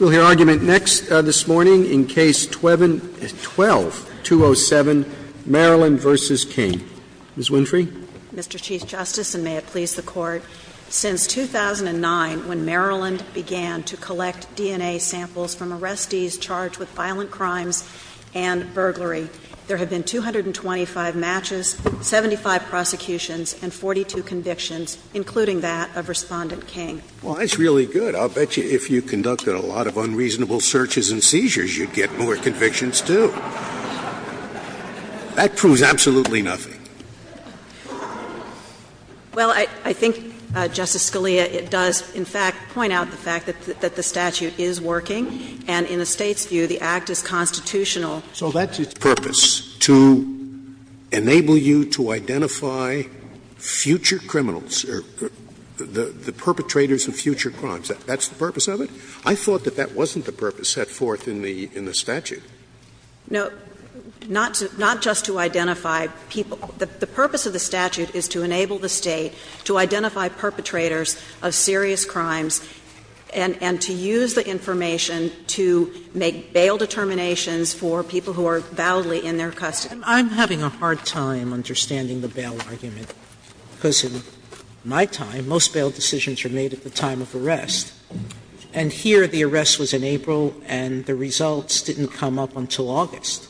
We'll hear argument next, this morning, in Case 12-207, Maryland v. King. Ms. Winfrey. Mr. Chief Justice, and may it please the Court, since 2009, when Maryland began to collect DNA samples from arrestees charged with violent crimes and burglary, there have been 225 matches, 75 prosecutions, and 42 convictions, including that of Respondent King. Well, that's really good. I'll bet you if you conducted a lot of unreasonable searches and seizures, you'd get more convictions, too. That proves absolutely nothing. Well, I think, Justice Scalia, it does, in fact, point out the fact that the statute is working, and in the State's view, the act is constitutional. So that's its purpose, to enable you to identify future criminals, the perpetrators of future crimes. That's the purpose of it? I thought that that wasn't the purpose set forth in the statute. No. Not just to identify people. The purpose of the statute is to enable the State to identify perpetrators of serious crimes and to use the information to make bail determinations for people who are validly in their custody. I'm having a hard time understanding the bail argument, because in my time, most of my time was in the time of arrest. And here, the arrest was in April, and the results didn't come up until August.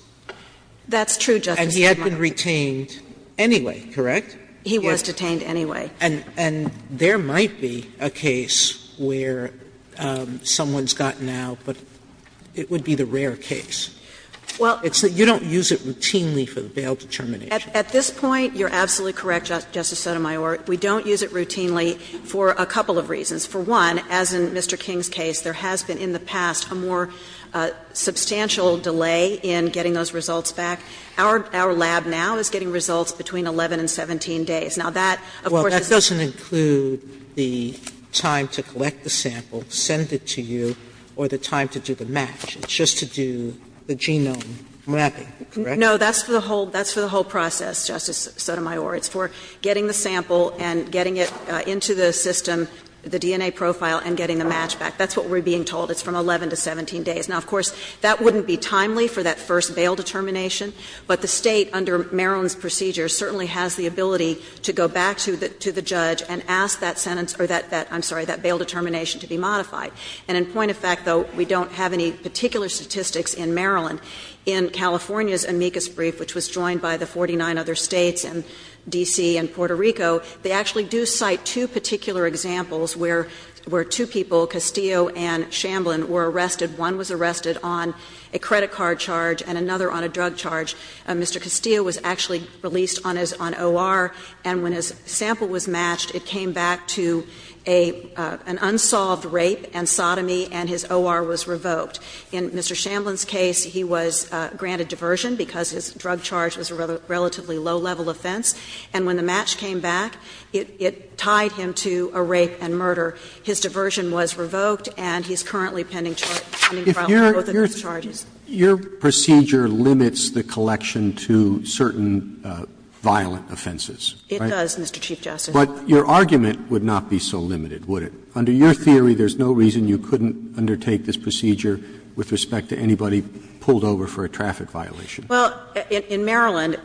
That's true, Justice Sotomayor. And he had been retained anyway, correct? He was detained anyway. And there might be a case where someone's gotten out, but it would be the rare case. Well. You don't use it routinely for the bail determination. At this point, you're absolutely correct, Justice Sotomayor. We don't use it routinely for a couple of reasons. For one, as in Mr. King's case, there has been, in the past, a more substantial delay in getting those results back. Our lab now is getting results between 11 and 17 days. Now, that, of course, is the same. Well, that doesn't include the time to collect the sample, send it to you, or the time to do the match. It's just to do the genome mapping, correct? No, that's for the whole process, Justice Sotomayor. It's for getting the sample and getting it into the system, the DNA profile, and getting the match back. That's what we're being told. It's from 11 to 17 days. Now, of course, that wouldn't be timely for that first bail determination, but the State, under Maryland's procedures, certainly has the ability to go back to the judge and ask that sentence or that, I'm sorry, that bail determination to be modified. And in point of fact, though, we don't have any particular statistics in Maryland. In California's amicus brief, which was joined by the 49 other States and D.C. and Puerto Rico, they actually do cite two particular examples where two people, Castillo and Shamblin, were arrested. One was arrested on a credit card charge and another on a drug charge. Mr. Castillo was actually released on OR, and when his sample was matched, it came back to an unsolved rape and sodomy, and his OR was revoked. In Mr. Shamblin's case, he was granted diversion because his drug charge was a relatively low-level offense. And when the match came back, it tied him to a rape and murder. His diversion was revoked, and he's currently pending trial for both of those charges. Roberts. Your procedure limits the collection to certain violent offenses, right? It does, Mr. Chief Justice. But your argument would not be so limited, would it? Under your theory, there's no reason you couldn't undertake this procedure with respect to anybody pulled over for a traffic violation. Well, in Maryland,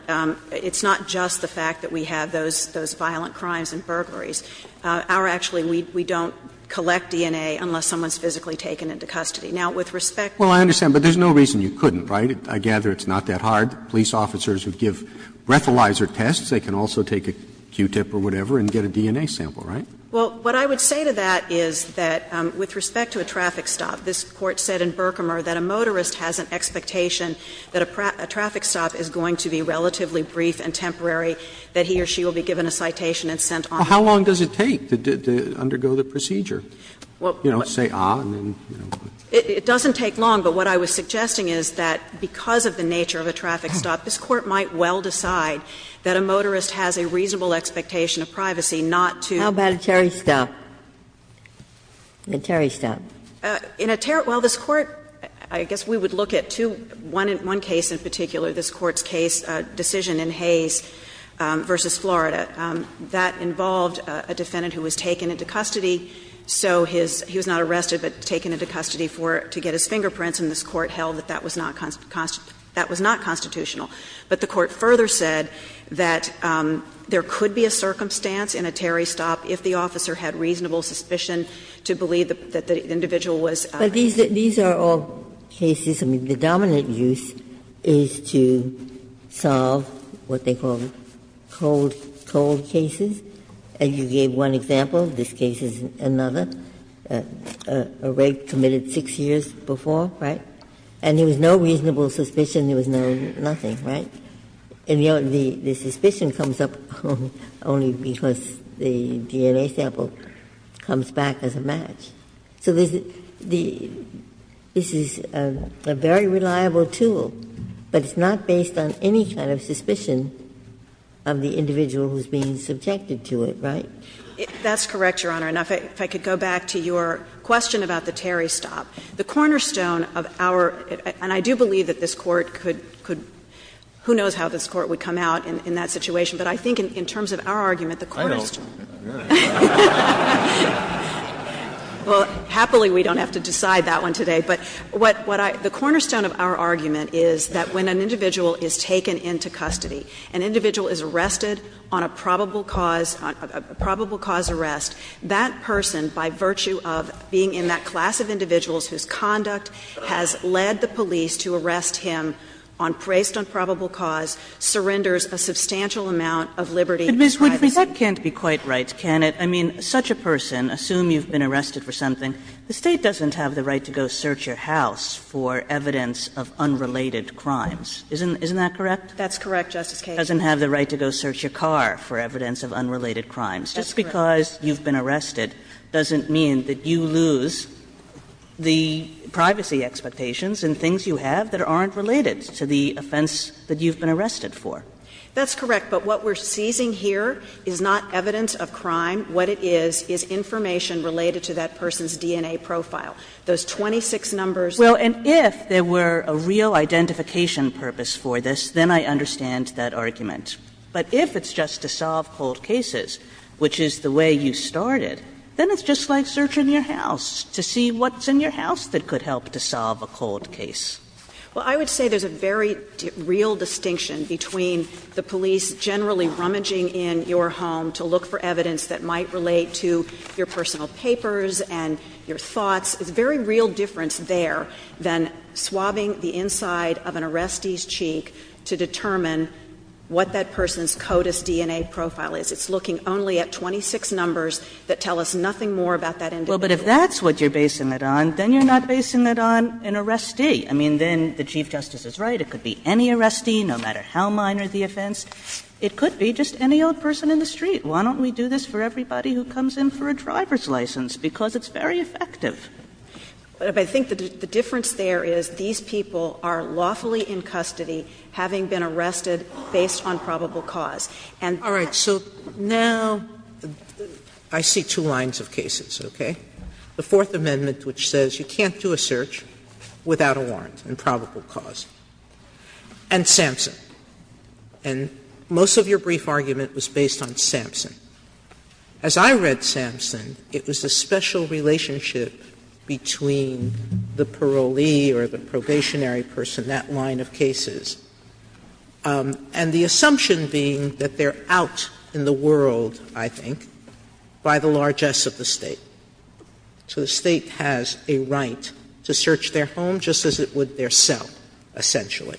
it's not just the fact that we have those violent crimes and burglaries. Our actually, we don't collect DNA unless someone's physically taken into custody. Now, with respect to that. Well, I understand, but there's no reason you couldn't, right? I gather it's not that hard. Police officers would give breathalyzer tests. They can also take a Q-tip or whatever and get a DNA sample, right? Well, what I would say to that is that with respect to a traffic stop, this Court said in Berkemer that a motorist has an expectation that a traffic stop is going to be relatively brief and temporary, that he or she will be given a citation and sent on. Well, how long does it take to undergo the procedure, you know, say, ah, and then you know. It doesn't take long, but what I was suggesting is that because of the nature of a traffic stop, this Court might well decide that a motorist has a reasonable expectation of privacy, not to. How about a Terry stop? A Terry stop. In a Terry stop, well, this Court, I guess we would look at two, one case in particular, this Court's case, decision in Hayes v. Florida. That involved a defendant who was taken into custody, so his, he was not arrested, but taken into custody for, to get his fingerprints, and this Court held that that was not constitutional. But the Court further said that there could be a circumstance in a Terry stop if the officer had reasonable suspicion to believe that the individual was. Ginsburg. But these are all cases, I mean, the dominant use is to solve what they call cold, cold cases, and you gave one example, this case is another, a rape committed 6 years before, right? And there was no reasonable suspicion, there was no nothing, right? And the suspicion comes up only because the DNA sample comes back as a match. So there's the, this is a very reliable tool, but it's not based on any kind of suspicion of the individual who's being subjected to it, right? That's correct, Your Honor. Now, if I could go back to your question about the Terry stop. The cornerstone of our, and I do believe that this Court could, who knows how this Court would come out in that situation, but I think in terms of our argument, the cornerstone. I know. Well, happily we don't have to decide that one today, but what I, the cornerstone of our argument is that when an individual is taken into custody, an individual is arrested on a probable cause, a probable cause arrest, that person, by virtue of being in that class of individuals whose conduct has led the police to arrest him on, based on probable cause, surrenders a substantial amount of liberty and privacy. But Ms. Woodley, that can't be quite right, can it? I mean, such a person, assume you've been arrested for something, the State doesn't have the right to go search your house for evidence of unrelated crimes, isn't that correct? That's correct, Justice Kagan. Doesn't have the right to go search your car for evidence of unrelated crimes. That's correct. But just because you've been arrested doesn't mean that you lose the privacy expectations and things you have that aren't related to the offense that you've been arrested for. That's correct. But what we're seizing here is not evidence of crime. What it is, is information related to that person's DNA profile. Those 26 numbers. Well, and if there were a real identification purpose for this, then I understand that argument. But if it's just to solve cold cases, which is the way you started, then it's just like searching your house to see what's in your house that could help to solve a cold case. Well, I would say there's a very real distinction between the police generally rummaging in your home to look for evidence that might relate to your personal papers and your thoughts. There's a very real difference there than swabbing the inside of an arrestee's And I think that's what that person's CODIS DNA profile is. It's looking only at 26 numbers that tell us nothing more about that individual. Well, but if that's what you're basing it on, then you're not basing it on an arrestee. I mean, then the Chief Justice is right. It could be any arrestee, no matter how minor the offense. It could be just any old person in the street. Why don't we do this for everybody who comes in for a driver's license? Because it's very effective. But I think the difference there is these people are lawfully in custody, having been arrested based on probable cause. Sotomayor All right. So now I see two lines of cases, okay? The Fourth Amendment, which says you can't do a search without a warrant and probable cause. And Sampson. And most of your brief argument was based on Sampson. As I read Sampson, it was a special relationship between the parolee or the probationary person, that line of cases. And the assumption being that they're out in the world, I think, by the largesse of the State. So the State has a right to search their home just as it would their cell, essentially.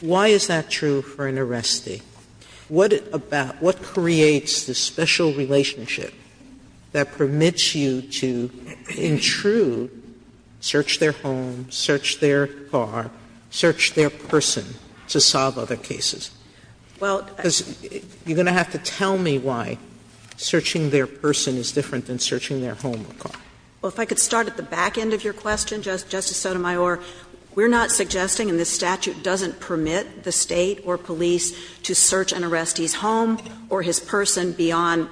Why is that true for an arrestee? What creates the special relationship that permits you to intrude, search their person to solve other cases? Because you're going to have to tell me why searching their person is different than searching their home or car. Well, if I could start at the back end of your question, Justice Sotomayor. We're not suggesting, and this statute doesn't permit, the State or police to search an arrestee's home or his person beyond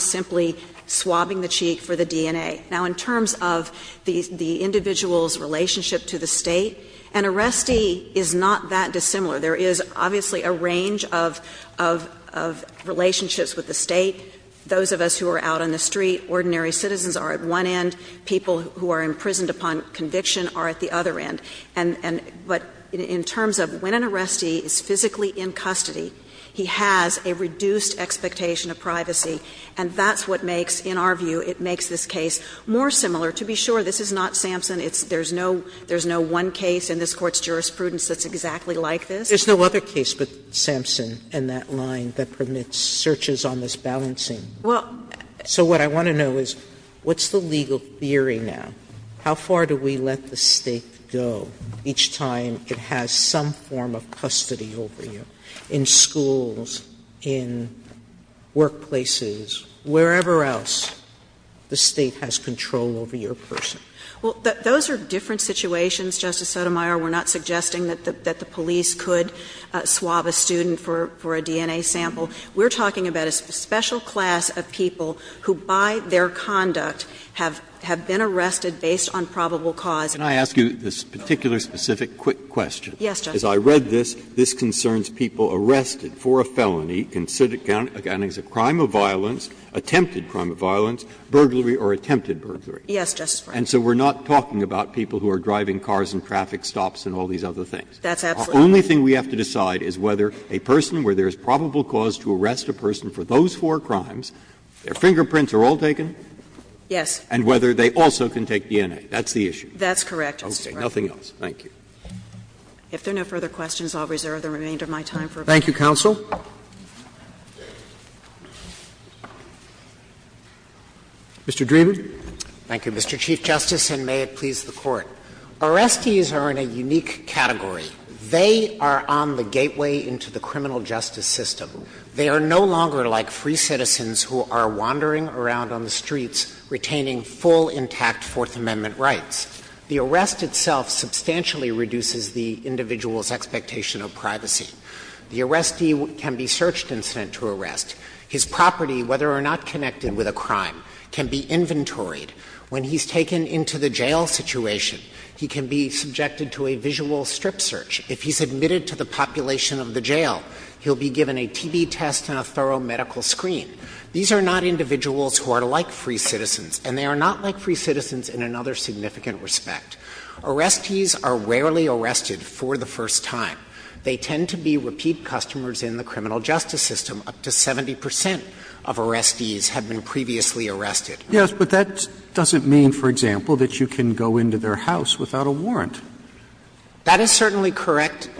simply swabbing the cheek for the DNA. Now, in terms of the individual's relationship to the State, an arrestee is not that dissimilar. There is obviously a range of relationships with the State. Those of us who are out on the street, ordinary citizens are at one end. People who are imprisoned upon conviction are at the other end. But in terms of when an arrestee is physically in custody, he has a reduced expectation of privacy. And that's what makes, in our view, it makes this case more similar. To be sure, this is not Sampson. It's not one case in this Court's jurisprudence that's exactly like this. There's no other case but Sampson in that line that permits searches on this balancing. Well. So what I want to know is, what's the legal theory now? How far do we let the State go each time it has some form of custody over you in schools, in workplaces, wherever else the State has control over your person? Well, those are different situations, Justice Sotomayor. We're not suggesting that the police could swab a student for a DNA sample. We're talking about a special class of people who, by their conduct, have been arrested based on probable cause. Can I ask you this particular specific quick question? Yes, Justice. As I read this, this concerns people arrested for a felony considered a crime of violence, attempted crime of violence, burglary, or attempted burglary. Yes, Justice Breyer. And so we're not talking about people who are driving cars in traffic stops and all these other things. That's absolutely right. The only thing we have to decide is whether a person where there's probable cause to arrest a person for those four crimes, their fingerprints are all taken. Yes. And whether they also can take DNA. That's the issue. That's correct, Justice Breyer. Okay. Nothing else. Thank you. If there are no further questions, I'll reserve the remainder of my time for a break. Thank you, counsel. Mr. Dreeben. Thank you, Mr. Chief Justice, and may it please the Court. Arrestees are in a unique category. They are on the gateway into the criminal justice system. They are no longer like free citizens who are wandering around on the streets retaining full, intact Fourth Amendment rights. The arrest itself substantially reduces the individual's expectation of privacy. The arrestee can be searched and sent to arrest. His property, whether or not connected with a crime, can be inventoried. When he's taken into the jail situation, he can be subjected to a visual strip search. If he's admitted to the population of the jail, he'll be given a TB test and a thorough medical screen. These are not individuals who are like free citizens, and they are not like free In my respect, arrestees are rarely arrested for the first time. They tend to be repeat customers in the criminal justice system. Up to 70 percent of arrestees have been previously arrested. Yes, but that doesn't mean, for example, that you can go into their house without a warrant. That is certainly correct,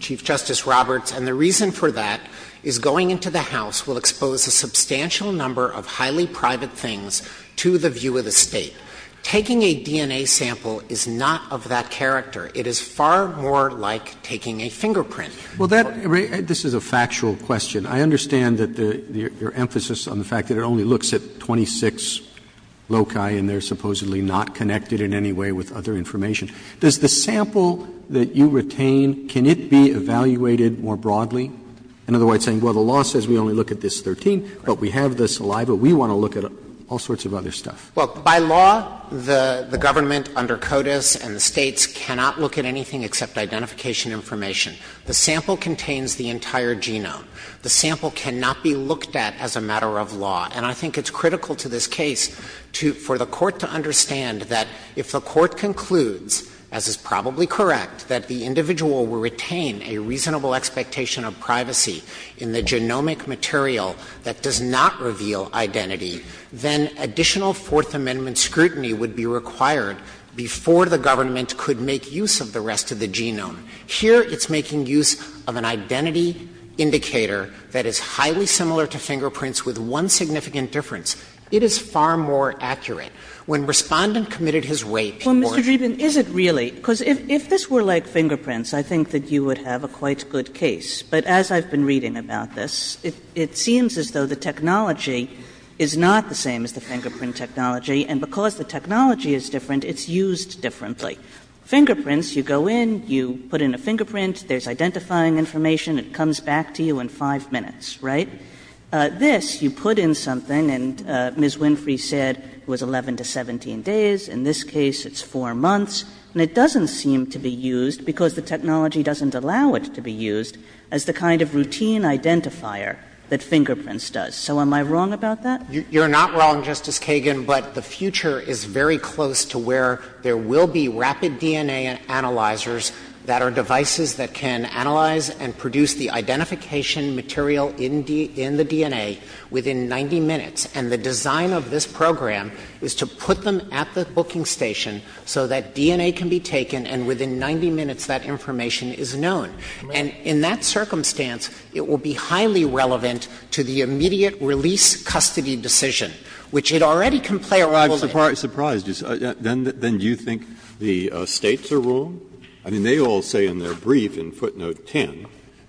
Chief Justice Roberts, and the reason for that is going into the house will expose a substantial number of highly private things to the view of the State. Taking a DNA sample is not of that character. It is far more like taking a fingerprint. Roberts, this is a factual question. I understand that your emphasis on the fact that it only looks at 26 loci and they are supposedly not connected in any way with other information. Does the sample that you retain, can it be evaluated more broadly? In other words, saying, well, the law says we only look at this 13, but we have the saliva. We want to look at all sorts of other stuff. Well, by law, the government under CODIS and the States cannot look at anything except identification information. The sample contains the entire genome. The sample cannot be looked at as a matter of law. And I think it's critical to this case for the Court to understand that if the Court concludes, as is probably correct, that the individual will retain a reasonable expectation of privacy in the genomic material that does not reveal identity, then additional Fourth Amendment scrutiny would be required before the government could make use of the rest of the genome. Here, it's making use of an identity indicator that is highly similar to fingerprints with one significant difference. It is far more accurate. When Respondent committed his rape, he wore a hat. Kagan. Kagan. Kagan. Kagan. Kagan. Kagan. Kagan. Kagan. Kagan. Kagan. Kagan. Kagan. Kagan. Kagan. Kagan. But it's not the same as the fingerprint, right? It's not the same as the fingerprint technology, and because the technology is different, it's used differently. Fingerprints you go in, you put in a fingerprint, there's identifying information, it comes back to you in five minutes, right? This, you put in something and Ms. Winfrey said it was 11 to 17 days. In this case, it's four months, and it doesn't seem to be used because the technology doesn't allow it to be used as the kind of routine identifier that fingerprints does. So am I wrong about that? You're not wrong, Justice Kagan, but the future is very close to where there will be rapid DNA analyzers that are devices that can analyze and produce the identification material in the DNA within 90 minutes, and the design of this program is to put them at the booking station so that DNA can be taken and within 90 minutes, that information is known. And in that circumstance, it will be highly relevant to the immediate release custody decision, which it already can play a role in. Breyer, I'm surprised. Then do you think the States are wrong? I mean, they all say in their brief in footnote 10,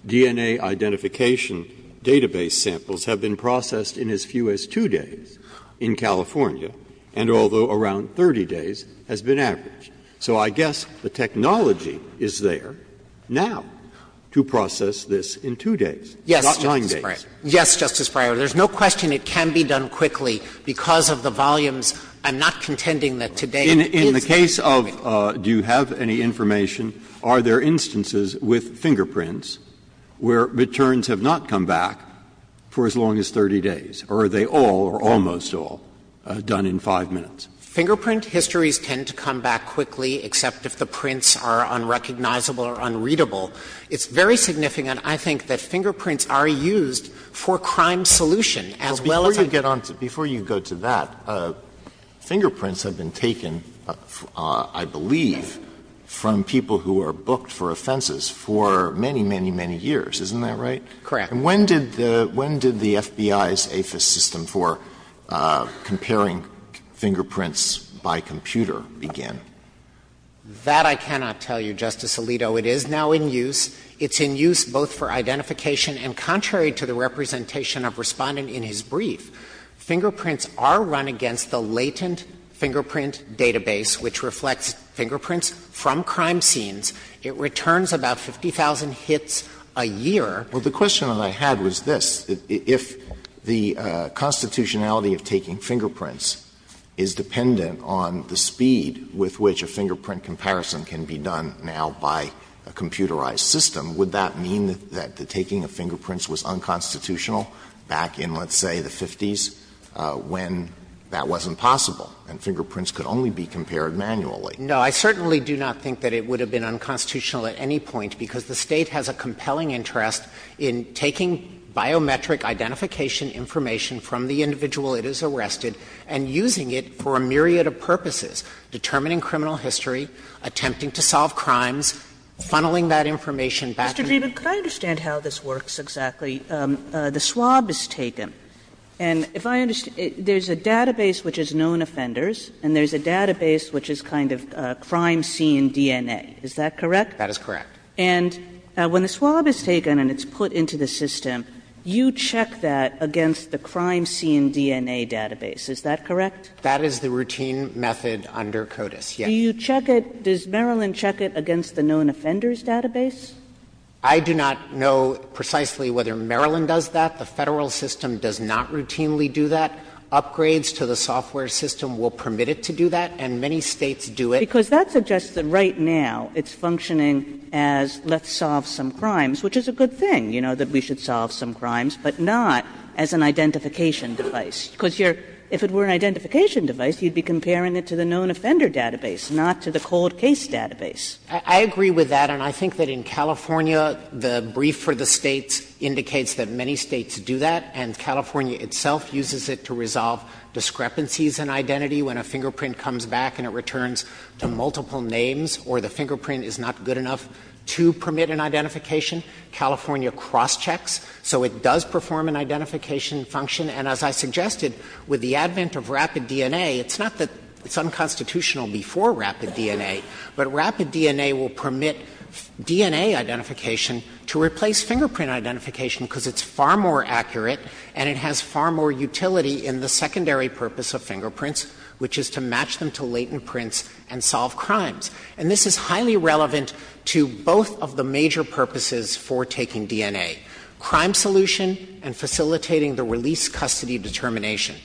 DNA identification database samples have been processed in as few as two days in California, and although around 30 days has been averaged. So I guess the technology is there now to process this in two days, not nine days. Yes, Justice Breyer. There's no question it can be done quickly because of the volumes. I'm not contending that today is the case. In the case of do you have any information, are there instances with fingerprints where returns have not come back for as long as 30 days, or are they all or almost all done in 5 minutes? Fingerprint histories tend to come back quickly, except if the prints are unrecognizable or unreadable. It's very significant, I think, that fingerprints are used for crime solution as well as a group of people. Before you get on to that, fingerprints have been taken, I believe, from people who are booked for offenses for many, many, many years. Isn't that right? Correct. And when did the FBI's APHIS system for comparing fingerprints by computer begin? That I cannot tell you, Justice Alito. It is now in use. It's in use both for identification and contrary to the representation of Respondent in his brief. Fingerprints are run against the latent fingerprint database, which reflects fingerprints from crime scenes. It returns about 50,000 hits a year. Well, the question that I had was this. If the constitutionality of taking fingerprints is dependent on the speed with which a fingerprint comparison can be done now by a computerized system, would that mean that the taking of fingerprints was unconstitutional back in, let's say, the 50s, when that wasn't possible and fingerprints could only be compared manually? No. I certainly do not think that it would have been unconstitutional at any point, because the State has a compelling interest in taking biometric identification information from the individual it has arrested and using it for a myriad of purposes, determining criminal history, attempting to solve crimes, funneling that information back to the individual. Mr. Dreeben, could I understand how this works exactly? The swab is taken, and if I understand, there's a database which is known offenders and there's a database which is kind of crime scene DNA, is that correct? That is correct. And when the swab is taken and it's put into the system, you check that against the crime scene DNA database, is that correct? That is the routine method under CODIS, yes. Do you check it, does Maryland check it against the known offenders database? I do not know precisely whether Maryland does that. The Federal system does not routinely do that. Upgrades to the software system will permit it to do that, and many States do it. Because that suggests that right now it's functioning as let's solve some crimes, which is a good thing, you know, that we should solve some crimes, but not as an identification device, because if it were an identification device, you'd be comparing it to the known offender database, not to the cold case database. I agree with that, and I think that in California, the brief for the States indicates that many States do that, and California itself uses it to resolve discrepancies in identity when a fingerprint comes back and it returns to multiple names or the fingerprint is not good enough to permit an identification. California crosschecks, so it does perform an identification function. And as I suggested, with the advent of rapid DNA, it's not that it's unconstitutional before rapid DNA, but rapid DNA will permit DNA identification to replace fingerprint identification because it's far more accurate and it has far more utility in the secondary purpose of fingerprints, which is to match them to latent prints and solve crimes. And this is highly relevant to both of the major purposes for taking DNA, crime solution and facilitating the release custody determination.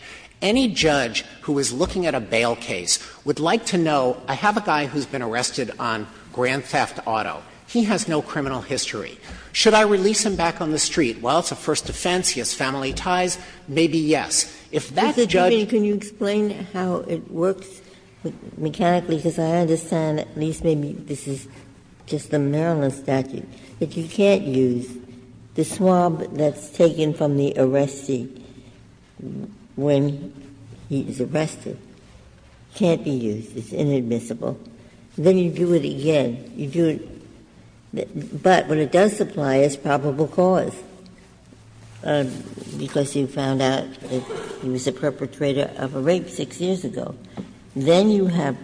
Any judge who is looking at a bail case would like to know, I have a guy who's been arrested on Grand Theft Auto. He has no criminal history. Should I release him back on the street? Well, it's a first defense, he has family ties, maybe yes. If that's judge ---- Ginsburg-Miller, can you explain how it works mechanically? Because I understand, at least maybe this is just the Maryland statute, if you can't use the swab that's taken from the arrestee when he's arrested, can't be used, it's inadmissible, then you do it again. You do it, but when it does supply, it's probable cause, because you found out it's probable cause, he was a perpetrator of a rape 6 years ago, then you have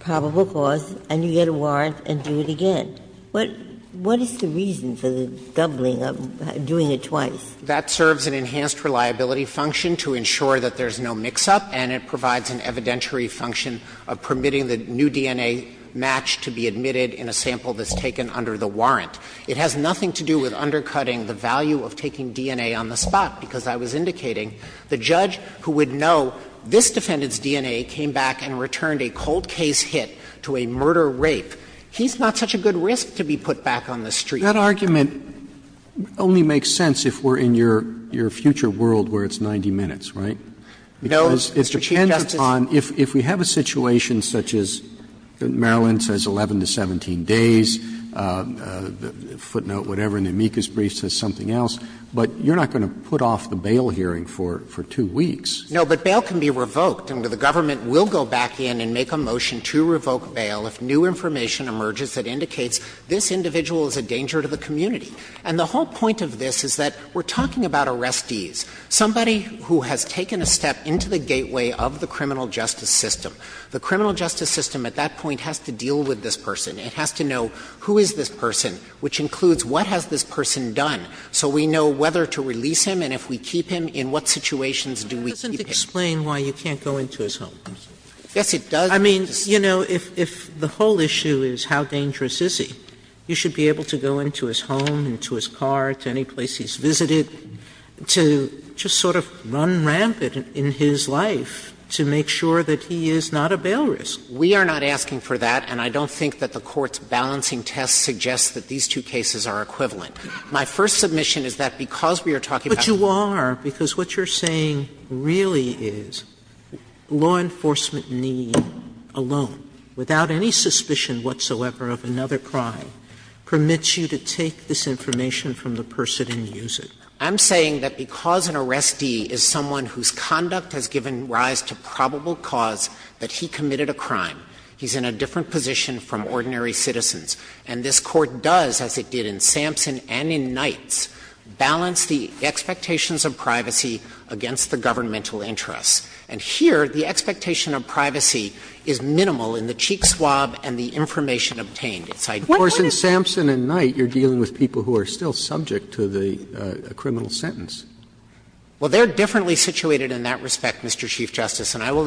probable cause and you get a warrant and do it again. What is the reason for the doubling of doing it twice? That serves an enhanced reliability function to ensure that there's no mix-up, and it provides an evidentiary function of permitting the new DNA match to be admitted in a sample that's taken under the warrant. It has nothing to do with undercutting the value of taking DNA on the spot, because as I was indicating, the judge who would know this defendant's DNA came back and returned a cold-case hit to a murder-rape, he's not such a good risk to be put back on the street. Roberts, that argument only makes sense if we're in your future world where it's 90 minutes, right? Because it depends on if we have a situation such as Maryland says 11 to 17 days, footnote whatever, an amicus brief says something else, but you're not going to put off the bail hearing for two weeks. No, but bail can be revoked, and the government will go back in and make a motion to revoke bail if new information emerges that indicates this individual is a danger to the community. And the whole point of this is that we're talking about arrestees, somebody who has taken a step into the gateway of the criminal justice system. The criminal justice system at that point has to deal with this person. It has to know who is this person, which includes what has this person done, so we know whether to release him, and if we keep him, in what situations do we keep him. Sotomayor, why doesn't it explain why you can't go into his home? Yes, it does. I mean, you know, if the whole issue is how dangerous is he, you should be able to go into his home, into his car, to any place he's visited, to just sort of run rampant in his life to make sure that he is not a bail risk. We are not asking for that, and I don't think that the Court's balancing test suggests that these two cases are equivalent. My first submission is that because we are talking about— Sotomayor, but you are, because what you are saying really is law enforcement need alone, without any suspicion whatsoever of another crime, permits you to take this information from the person and use it. I'm saying that because an arrestee is someone whose conduct has given rise to probable cause that he committed a crime, he's in a different position from ordinary citizens. And this Court does, as it did in Sampson and in Knight's, balance the expectations of privacy against the governmental interests. And here, the expectation of privacy is minimal in the cheek swab and the information obtained. It's identical. Sotomayor, in Sampson and Knight, you're dealing with people who are still subject to the criminal sentence. Well, they're differently situated in that respect, Mr. Chief Justice, and I will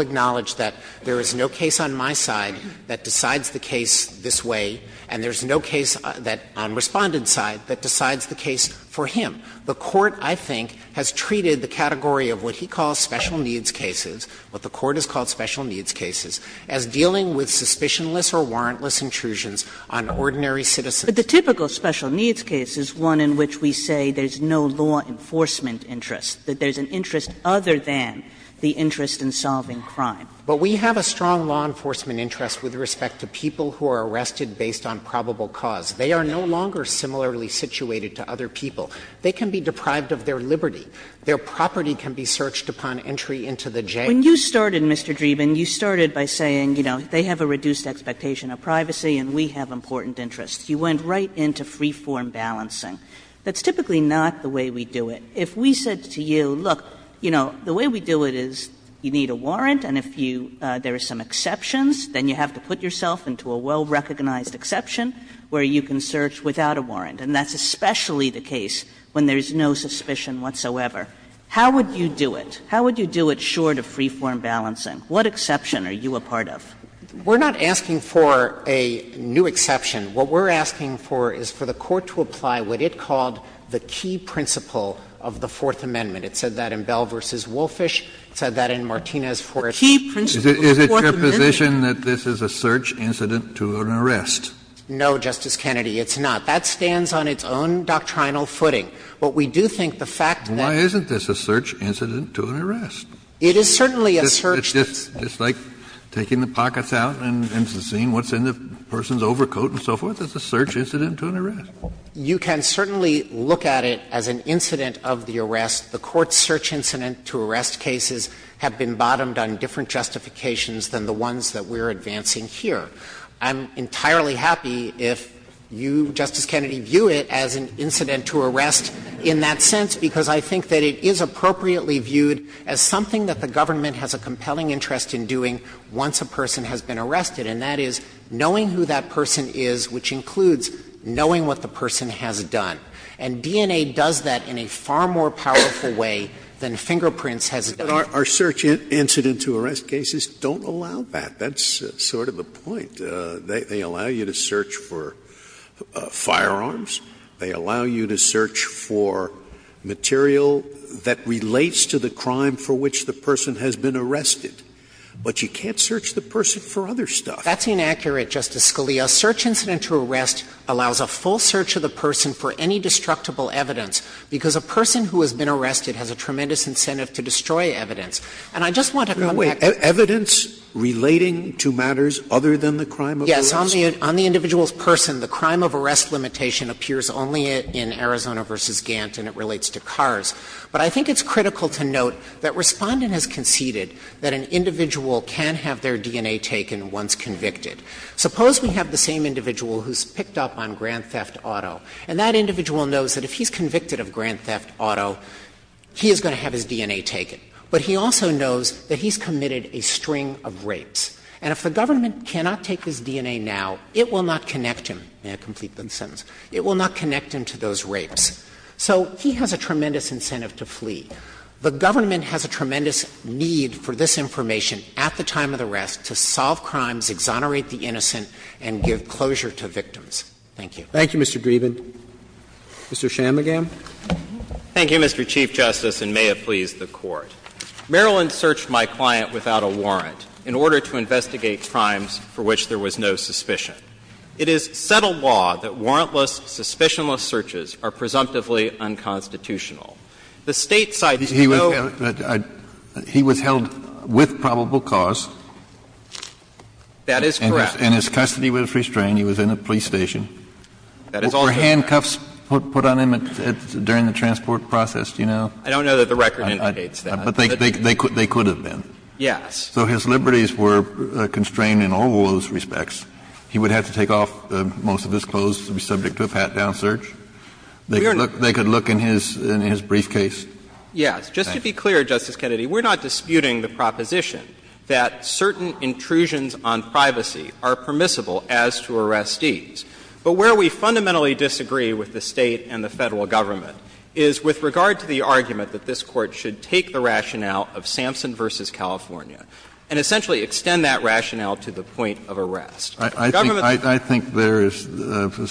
And there's no case that, on Respondent's side, that decides the case for him. The Court, I think, has treated the category of what he calls special needs cases, what the Court has called special needs cases, as dealing with suspicionless or warrantless intrusions on ordinary citizens. But the typical special needs case is one in which we say there's no law enforcement interest, that there's an interest other than the interest in solving crime. But we have a strong law enforcement interest with respect to people who are arrested based on probable cause. They are no longer similarly situated to other people. They can be deprived of their liberty. Their property can be searched upon entry into the jail. When you started, Mr. Dreeben, you started by saying, you know, they have a reduced expectation of privacy and we have important interests. You went right into free-form balancing. That's typically not the way we do it. If we said to you, look, you know, the way we do it is you need a warrant and if you do, there are some exceptions, then you have to put yourself into a well-recognized exception where you can search without a warrant. And that's especially the case when there's no suspicion whatsoever. How would you do it? How would you do it short of free-form balancing? What exception are you a part of? Dreeben, We're not asking for a new exception. What we're asking for is for the Court to apply what it called the key principle of the Fourth Amendment. It said that in Bell v. Wolfish. It said that in Martinez v. Wolfish, the key principle of the Fourth Amendment. Kennedy, is it your position that this is a search incident to an arrest? Dreeben, No, Justice Kennedy, it's not. That stands on its own doctrinal footing, but we do think the fact that Kennedy, why isn't this a search incident to an arrest? Dreeben, it is certainly a search. Kennedy, It's just like taking the pockets out and seeing what's in the person's overcoat and so forth. It's a search incident to an arrest. Dreeben, You can certainly look at it as an incident of the arrest. The Court's search incident to arrest cases have been bottomed on different justifications than the ones that we're advancing here. I'm entirely happy if you, Justice Kennedy, view it as an incident to arrest in that sense, because I think that it is appropriately viewed as something that the government has a compelling interest in doing once a person has been arrested, and that is knowing who that person is, which includes knowing what the person has done. And DNA does that in a far more powerful way than fingerprints has done. Scalia, But our search incident to arrest cases don't allow that. That's sort of the point. They allow you to search for firearms. They allow you to search for material that relates to the crime for which the person has been arrested. But you can't search the person for other stuff. Dreeben, That's inaccurate, Justice Scalia. A search incident to arrest allows a full search of the person for any destructible evidence, because a person who has been arrested has a tremendous incentive to destroy evidence. And I just want to come back to the point that the crime of arrest is only in Arizona v. Gantt, and it relates to cars. But I think it's critical to note that Respondent has conceded that an individual who's picked up on Grand Theft Auto, and that individual knows that if he's convicted of Grand Theft Auto, he is going to have his DNA taken. But he also knows that he's committed a string of rapes. And if the government cannot take his DNA now, it will not connect him. May I complete the sentence? It will not connect him to those rapes. So he has a tremendous incentive to flee. The government has a tremendous need for this information at the time of the arrest to solve crimes, exonerate the innocent, and give closure to victims. Thank you. Roberts. Thank you, Mr. Dreeben. Mr. Chamagam. Thank you, Mr. Chief Justice, and may it please the Court. Maryland searched my client without a warrant in order to investigate crimes for which there was no suspicion. It is settled law that warrantless, suspicionless searches are presumptively unconstitutional. The State cited no- That is correct. And his custody was restrained. He was in a police station. That is also correct. Were handcuffs put on him during the transport process? Do you know? I don't know that the record indicates that. But they could have been. Yes. So his liberties were constrained in all those respects. He would have to take off most of his clothes to be subject to a pat-down search. They could look in his briefcase. Yes. Just to be clear, Justice Kennedy, we're not disputing the proposition that certain intrusions on privacy are permissible as to arrestees. But where we fundamentally disagree with the State and the Federal Government is with regard to the argument that this Court should take the rationale of Sampson v. California and essentially extend that rationale to the point of arrest. The government's- I think there is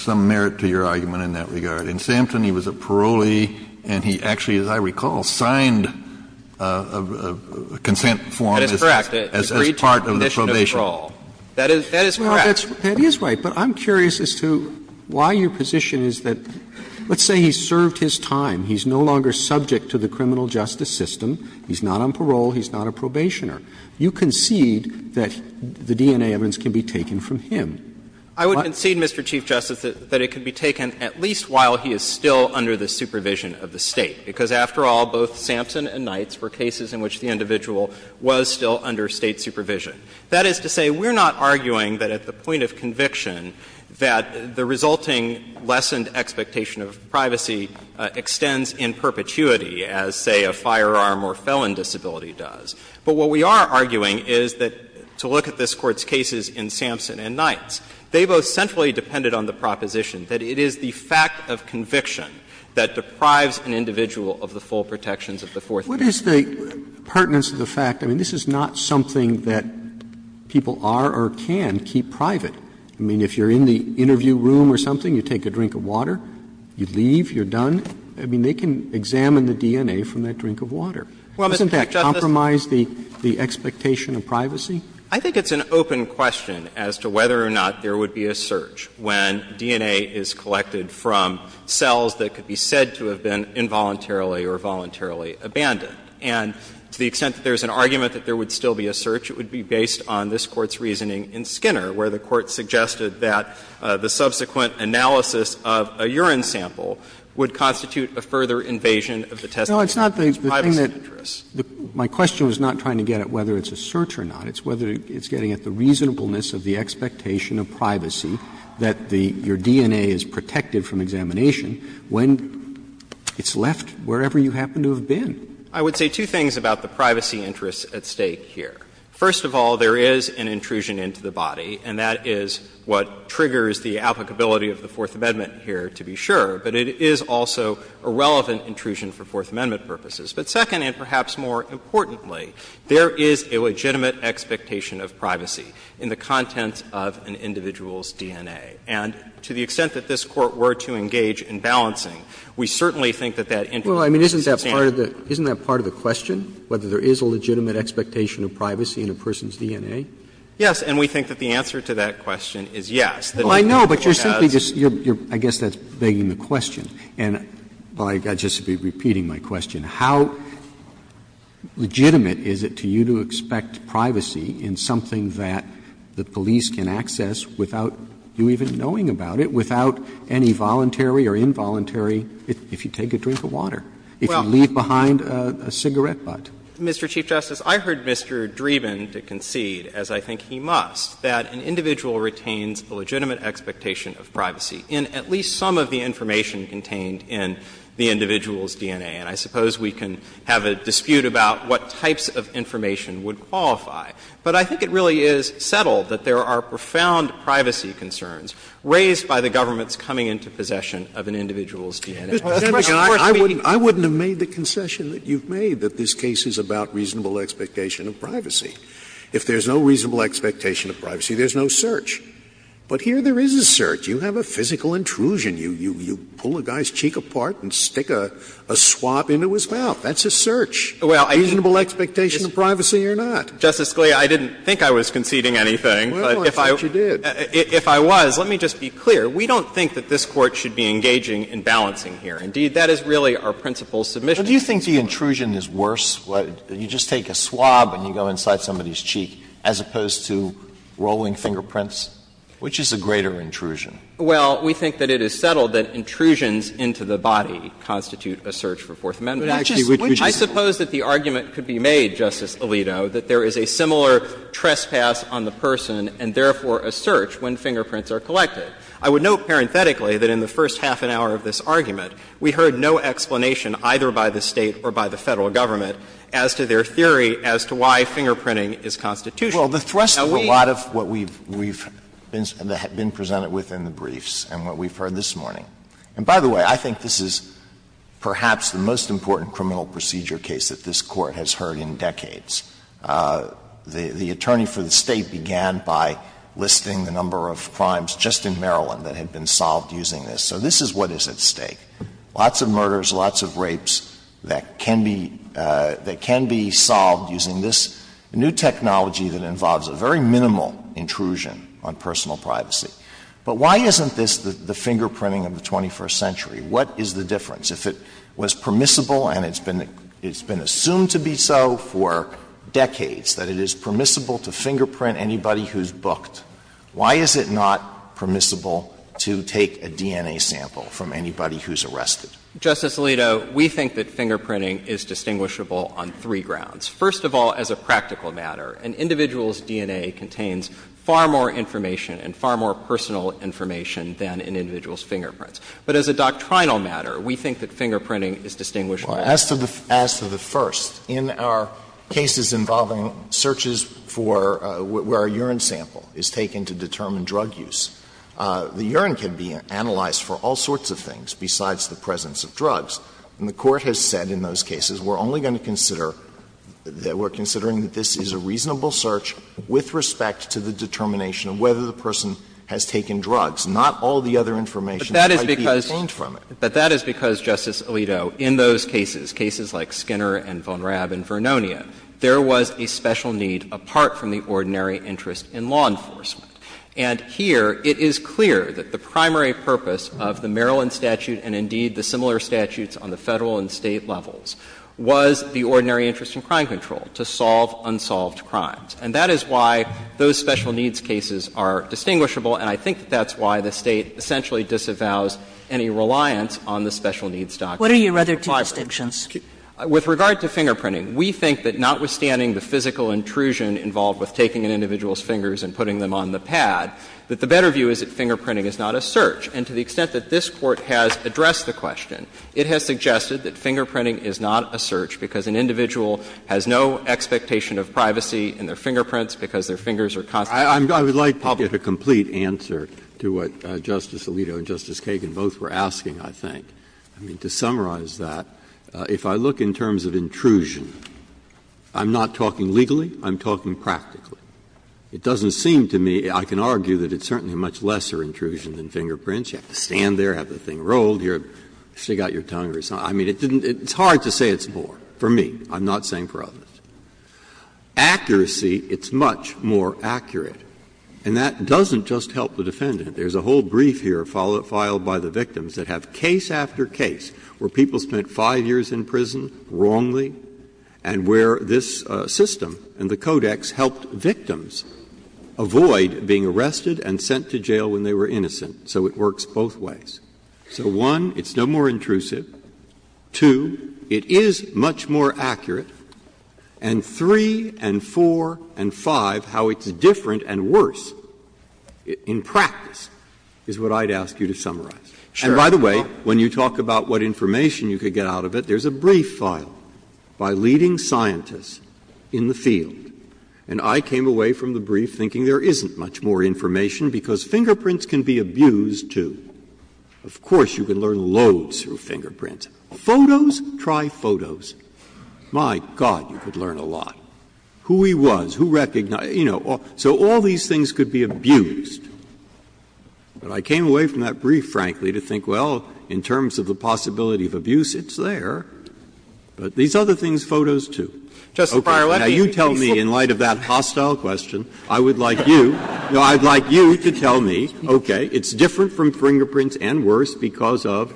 some merit to your argument in that regard. In Sampson, he was a parolee, and he actually, as I recall, signed a consent form- That is correct. As part of the probation. That is correct. That is right. But I'm curious as to why your position is that, let's say he's served his time, he's no longer subject to the criminal justice system, he's not on parole, he's not a probationer, you concede that the DNA evidence can be taken from him. I would concede, Mr. Chief Justice, that it can be taken at least while he is still under the supervision of the State, because after all, both Sampson and Knights were cases in which the individual was still under State supervision. That is to say, we're not arguing that at the point of conviction that the resulting lessened expectation of privacy extends in perpetuity as, say, a firearm or felon disability does. But what we are arguing is that to look at this Court's cases in Sampson and Knights, they both centrally depended on the proposition that it is the fact of conviction What is the pertinence of the fact, I mean, this is not something that people are or can keep private. I mean, if you're in the interview room or something, you take a drink of water, you leave, you're done. I mean, they can examine the DNA from that drink of water. Well, Mr. Chief Justice. Doesn't that compromise the expectation of privacy? I think it's an open question as to whether or not there would be a search when DNA is collected from cells that could be said to have been involuntarily or voluntarily abandoned. And to the extent that there's an argument that there would still be a search, it would be based on this Court's reasoning in Skinner, where the Court suggested that the subsequent analysis of a urine sample would constitute a further invasion of the testimony of privacy interests. Robertson, My question was not trying to get at whether it's a search or not. It's whether it's getting at the reasonableness of the expectation of privacy that the — your DNA is protected from examination when it's left wherever you happen to have been. I would say two things about the privacy interests at stake here. First of all, there is an intrusion into the body, and that is what triggers the applicability of the Fourth Amendment here, to be sure. But it is also a relevant intrusion for Fourth Amendment purposes. But second, and perhaps more importantly, there is a legitimate expectation of privacy in the contents of an individual's DNA. And to the extent that this Court were to engage in balancing, we certainly think that that intrusion is a standoff. Roberts, Well, I mean, isn't that part of the question, whether there is a legitimate expectation of privacy in a person's DNA? Yes, and we think that the answer to that question is yes. Roberts, Well, I know, but you're simply just — I guess that's begging the question. And I'll just be repeating my question. How legitimate is it to you to expect privacy in something that the police can access without you even knowing about it, without any voluntary or involuntary, if you take a drink of water, if you leave behind a cigarette butt? Mr. Chief Justice, I heard Mr. Dreeben concede, as I think he must, that an individual retains a legitimate expectation of privacy in at least some of the information contained in the individual's DNA. And I suppose we can have a dispute about what types of information would qualify. But I think it really is settled that there are profound privacy concerns raised by the government's coming into possession of an individual's DNA. Scalia, I wouldn't have made the concession that you've made, that this case is about reasonable expectation of privacy. If there's no reasonable expectation of privacy, there's no search. But here there is a search. You have a physical intrusion. You pull a guy's cheek apart and stick a swab into his mouth. That's a search. Reasonable expectation of privacy or not? Justice Scalia, I didn't think I was conceding anything. But if I was, let me just be clear. We don't think that this Court should be engaging in balancing here. Indeed, that is really our principal submission. Alito, do you think the intrusion is worse? You just take a swab and you go inside somebody's cheek, as opposed to rolling fingerprints? Which is a greater intrusion? Well, we think that it is settled that intrusions into the body constitute a search for Fourth Amendment. I suppose that the argument could be made, Justice Alito, that there is a similar trespass on the person and therefore a search when fingerprints are collected. I would note parenthetically that in the first half an hour of this argument, we heard no explanation either by the State or by the Federal government as to their theory as to why fingerprinting is constitutional. Well, the thrust of a lot of what we've been presented with in the briefs and what we've heard this morning, and by the way, I think this is perhaps the most important criminal procedure case that this Court has heard in decades. The attorney for the State began by listing the number of crimes just in Maryland that had been solved using this. So this is what is at stake. Lots of murders, lots of rapes that can be solved using this new technology that involves a very minimal intrusion on personal privacy. But why isn't this the fingerprinting of the 21st century? What is the difference? If it was permissible and it's been assumed to be so for decades, that it is permissible to fingerprint anybody who's booked, why is it not permissible to take a DNA sample from anybody who's arrested? Justice Alito, we think that fingerprinting is distinguishable on three grounds. First of all, as a practical matter, an individual's DNA contains far more information and far more personal information than an individual's fingerprints. But as a doctrinal matter, we think that fingerprinting is distinguishable. Alito, as to the first, in our cases involving searches for where a urine sample is taken to determine drug use, the urine can be analyzed for all sorts of things besides the presence of drugs. And the Court has said in those cases, we're only going to consider that we're considering that this is a reasonable search with respect to the determination of whether the person has taken drugs, not all the other information that might be obtained from it. But that is because, Justice Alito, in those cases, cases like Skinner and Von Raab and Vernonia, there was a special need apart from the ordinary interest in law enforcement. And here it is clear that the primary purpose of the Maryland statute and, indeed, the similar statutes on the Federal and State levels was the ordinary interest in crime control, to solve unsolved crimes. And that is why those special needs cases are distinguishable, and I think that's why the State essentially disavows any reliance on the special needs doctrine. What are your other two distinctions? With regard to fingerprinting, we think that notwithstanding the physical intrusion involved with taking an individual's fingers and putting them on the pad, that the better view is that fingerprinting is not a search. And to the extent that this Court has addressed the question, it has suggested that fingerprinting is not a search because an individual has no expectation of privacy in their fingerprints because their fingers are constantly being public. Breyer, I would like to get a complete answer to what Justice Alito and Justice Kagan both were asking, I think. I mean, to summarize that, if I look in terms of intrusion, I'm not talking legally, I'm talking practically. It doesn't seem to me, I can argue that it's certainly a much lesser intrusion than fingerprints. You have to stand there, have the thing rolled, you have to stick out your tongue or something. I mean, it's hard to say it's more, for me, I'm not saying for others. Accuracy, it's much more accurate, and that doesn't just help the defendant. There's a whole brief here filed by the victims that have case after case where people spent 5 years in prison wrongly and where this system and the codex helped victims avoid being arrested and sent to jail when they were innocent. So it works both ways. So, one, it's no more intrusive. Two, it is much more accurate. And three and four and five, how it's different and worse in practice is what I'd ask you to summarize. And by the way, when you talk about what information you could get out of it, there's a brief filed by leading scientists in the field. And I came away from the brief thinking there isn't much more information because fingerprints can be abused, too. Of course, you can learn loads through fingerprints. Photos? Try photos. My God, you could learn a lot. Who he was, who recognized, you know. So all these things could be abused. But I came away from that brief, frankly, to think, well, in terms of the possibility of abuse, it's there. But these other things, photos, too. Now, you tell me, in light of that hostile question, I would like you, no, I'd like you to tell me, okay, it's different from fingerprints and worse because of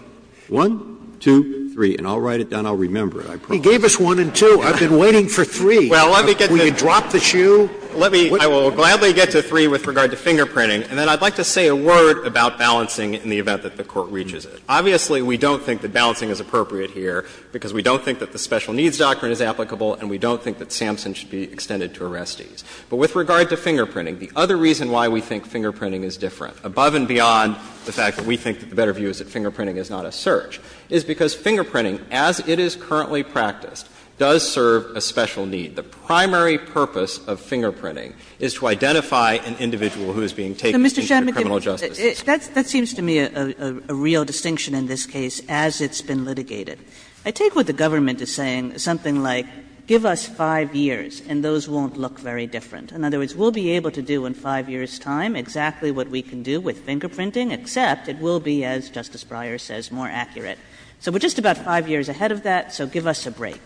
one, two, three, and I'll write it down, I'll remember it, I promise. Sotomayor, he gave us one and two, I've been waiting for three. Can we drop the shoe? Let me, I will gladly get to three with regard to fingerprinting, and then I'd like to say a word about balancing in the event that the Court reaches it. Obviously, we don't think that balancing is appropriate here because we don't think that the Special Needs Doctrine is applicable and we don't think that Sampson should be extended to arrestees. But with regard to fingerprinting, the other reason why we think fingerprinting is different, above and beyond the fact that we think that the better view is that fingerprinting is not a search, is because fingerprinting, as it is currently practiced, does serve a special need. The primary purpose of fingerprinting is to identify an individual who is being taken into the criminal justice system. Kagan, that seems to me a real distinction in this case as it's been litigated. I take what the government is saying as something like give us 5 years and those won't look very different. In other words, we'll be able to do in 5 years' time exactly what we can do with fingerprinting, except it will be, as Justice Breyer says, more accurate. So we're just about 5 years ahead of that, so give us a break.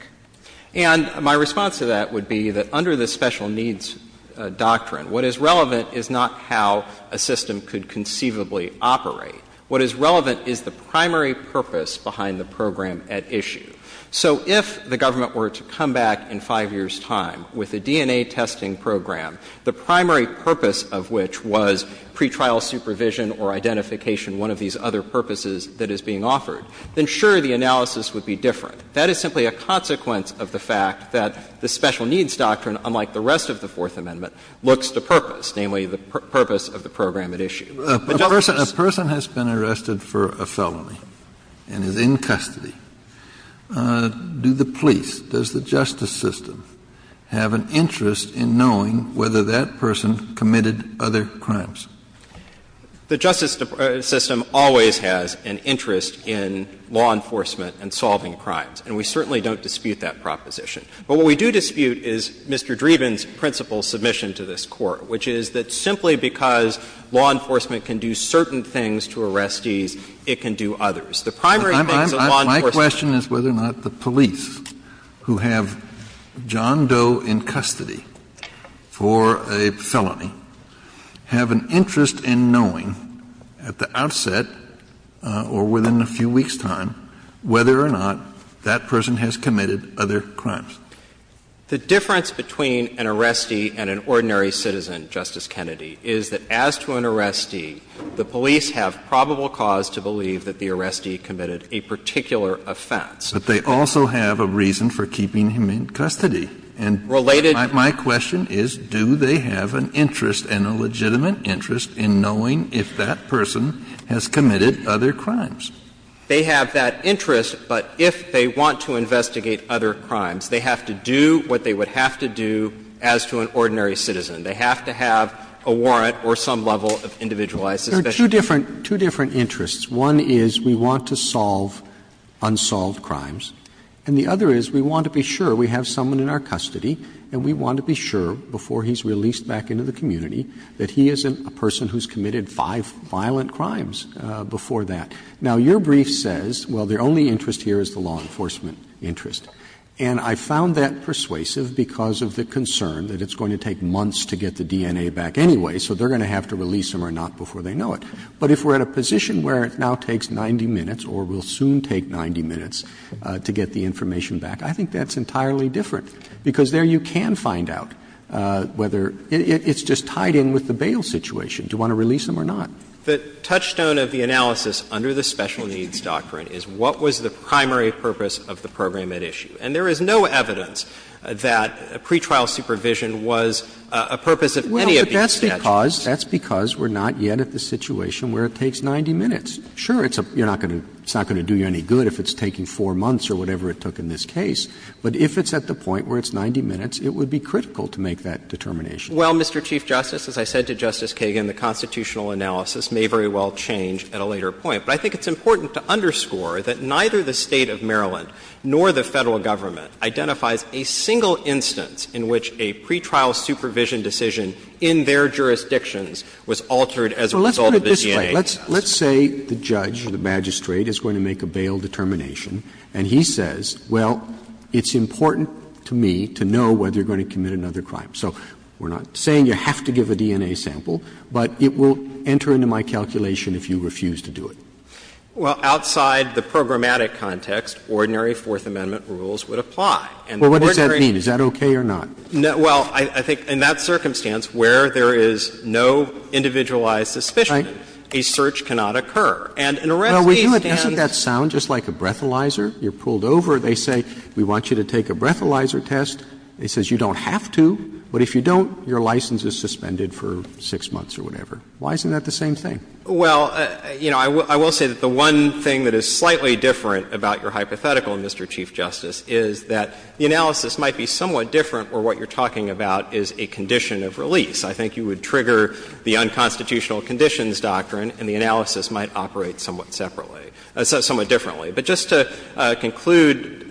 And my response to that would be that under the Special Needs Doctrine, what is relevant is not how a system could conceivably operate. What is relevant is the primary purpose behind the program at issue. So if the government were to come back in 5 years' time with a DNA testing program, the primary purpose of which was pretrial supervision or identification, one of these other purposes that is being offered, then sure, the analysis would be different. That is simply a consequence of the fact that the Special Needs Doctrine, unlike the rest of the Fourth Amendment, looks to purpose, namely the purpose of the program at issue. Kennedy, a person has been arrested for a felony and is in custody. Do the police, does the justice system have an interest in knowing whether that person committed other crimes? The justice system always has an interest in law enforcement and solving crimes, and we certainly don't dispute that proposition. But what we do dispute is Mr. Dreeben's principal submission to this Court, which is that simply because law enforcement can do certain things to arrestees, it can do others. The primary thing is law enforcement. Kennedy, my question is whether or not the police who have John Doe in custody for a felony have an interest in knowing at the outset or within a few weeks' time whether or not that person has committed other crimes. The difference between an arrestee and an ordinary citizen, Justice Kennedy, is that as to an arrestee, the police have probable cause to believe that the arrestee committed a particular offense. But they also have a reason for keeping him in custody. And my question is, do they have an interest and a legitimate interest in knowing if that person has committed other crimes? They have that interest, but if they want to investigate other crimes, they have to do what they would have to do as to an ordinary citizen. They have to have a warrant or some level of individualized suspicion. Roberts. Roberts. Two different interests. One is we want to solve unsolved crimes, and the other is we want to be sure we have someone in our custody and we want to be sure, before he's released back into the community, that he is a person who's committed five violent crimes before that. Now, your brief says, well, their only interest here is the law enforcement interest. And I found that persuasive because of the concern that it's going to take months to get the DNA back anyway, so they're going to have to release him or not before they know it. But if we're in a position where it now takes 90 minutes or will soon take 90 minutes to get the information back, I think that's entirely different, because there you can find out whether it's just tied in with the bail situation, do you want to release him or not. The touchstone of the analysis under the Special Needs Doctrine is what was the primary purpose of the program at issue. And there is no evidence that pretrial supervision was a purpose of any of these judgments. Roberts Well, but that's because we're not yet at the situation where it takes 90 minutes. Sure, it's not going to do you any good if it's taking 4 months or whatever it took in this case, but if it's at the point where it's 90 minutes, it would be critical to make that determination. Well, Mr. Chief Justice, as I said to Justice Kagan, the constitutional analysis may very well change at a later point. But I think it's important to underscore that neither the State of Maryland nor the Federal Government identifies a single instance in which a pretrial supervision decision in their jurisdictions was altered as a result of the DNA test. Well, let's put it this way. Let's say the judge, the magistrate, is going to make a bail determination and he says, well, it's important to me to know whether you're going to commit another crime. So we're not saying you have to give a DNA sample, but it will enter into my calculation if you refuse to do it. Well, outside the programmatic context, ordinary Fourth Amendment rules would apply. And the ordinary rules would apply. Well, what does that mean? Is that okay or not? Well, I think in that circumstance where there is no individualized suspicion, a search cannot occur. And in a rest state stand. Well, isn't that sound just like a breathalyzer? You're pulled over. They say we want you to take a breathalyzer test. It says you don't have to, but if you don't, your license is suspended for 6 months or whatever. Why isn't that the same thing? Well, you know, I will say that the one thing that is slightly different about your hypothetical, Mr. Chief Justice, is that the analysis might be somewhat different where what you're talking about is a condition of release. I think you would trigger the unconstitutional conditions doctrine and the analysis might operate somewhat separately, somewhat differently. But just to conclude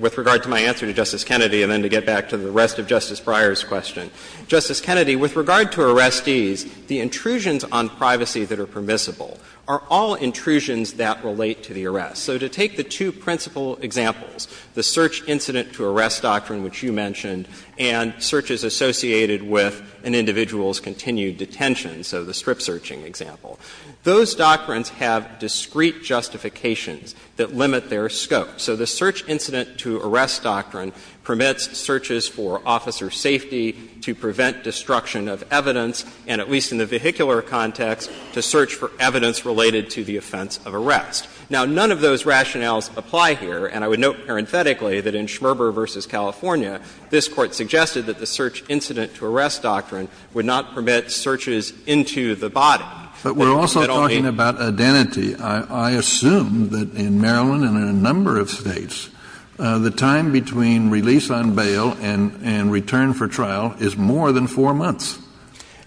with regard to my answer to Justice Kennedy and then to get back to the rest of Justice Breyer's question, Justice Kennedy, with regard to arrestees, the intrusions on privacy that are permissible are all intrusions that relate to the arrest. So to take the two principal examples, the search incident to arrest doctrine, which you mentioned, and searches associated with an individual's continued detention, so the strip-searching example, those doctrines have discrete justifications that limit their scope. So the search incident to arrest doctrine permits searches for officer safety to prevent destruction of evidence and, at least in the vehicular context, to search for evidence related to the offense of arrest. Now, none of those rationales apply here, and I would note parenthetically that in Schmerber v. California, this Court suggested that the search incident to arrest doctrine would not permit searches into the body. Kennedy, but we're also talking about identity. I assume that in Maryland and in a number of States, the time between release on bail and return for trial is more than 4 months.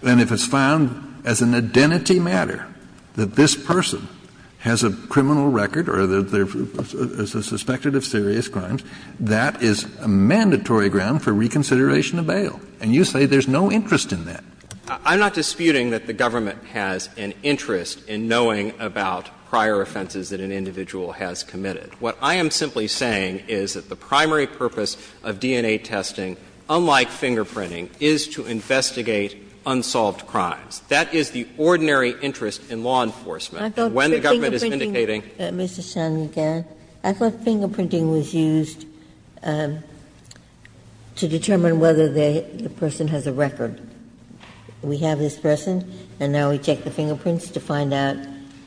And if it's found as an identity matter that this person has a criminal record or that they're suspected of serious crimes, that is a mandatory ground for reconsideration of bail. And you say there's no interest in that. I'm not disputing that the government has an interest in knowing about prior offenses that an individual has committed. What I am simply saying is that the primary purpose of DNA testing, unlike fingerprinting, is to investigate unsolved crimes. That is the ordinary interest in law enforcement. When the government is indicating that the person has a record, we have this person and now we check the fingerprints to find out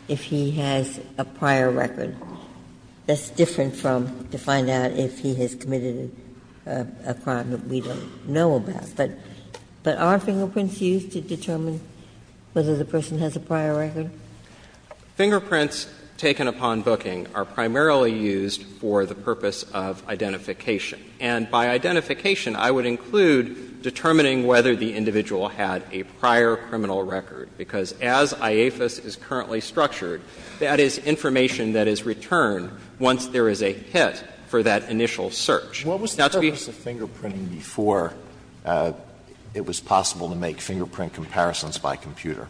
if he has a prior record. That's different from to find out if he has committed a crime that we don't know about. But are fingerprints used to determine whether the person has a prior record? Fingerprints taken upon booking are primarily used for the purpose of identification. And by identification, I would include determining whether the individual had a prior criminal record, because as IAFIS is currently structured, that is information that is returned once there is a hit for that initial search. Now, to be ---- Alito, what was the purpose of fingerprinting before it was possible to make fingerprint comparisons by computer?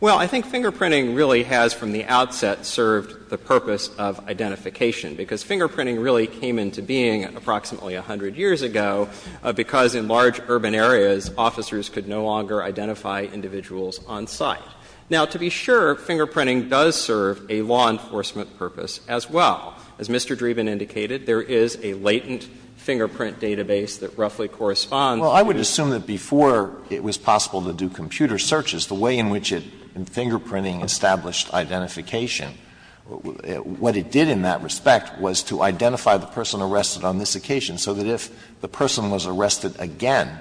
Well, I think fingerprinting really has, from the outset, served the purpose of identification. Because fingerprinting really came into being approximately 100 years ago, because Now, to be sure, fingerprinting does serve a law enforcement purpose as well. As Mr. Dreeben indicated, there is a latent fingerprint database that roughly corresponds to the ---- Well, I would assume that before it was possible to do computer searches, the way in which it, in fingerprinting, established identification, what it did in that respect was to identify the person arrested on this occasion, so that if the person was arrested again,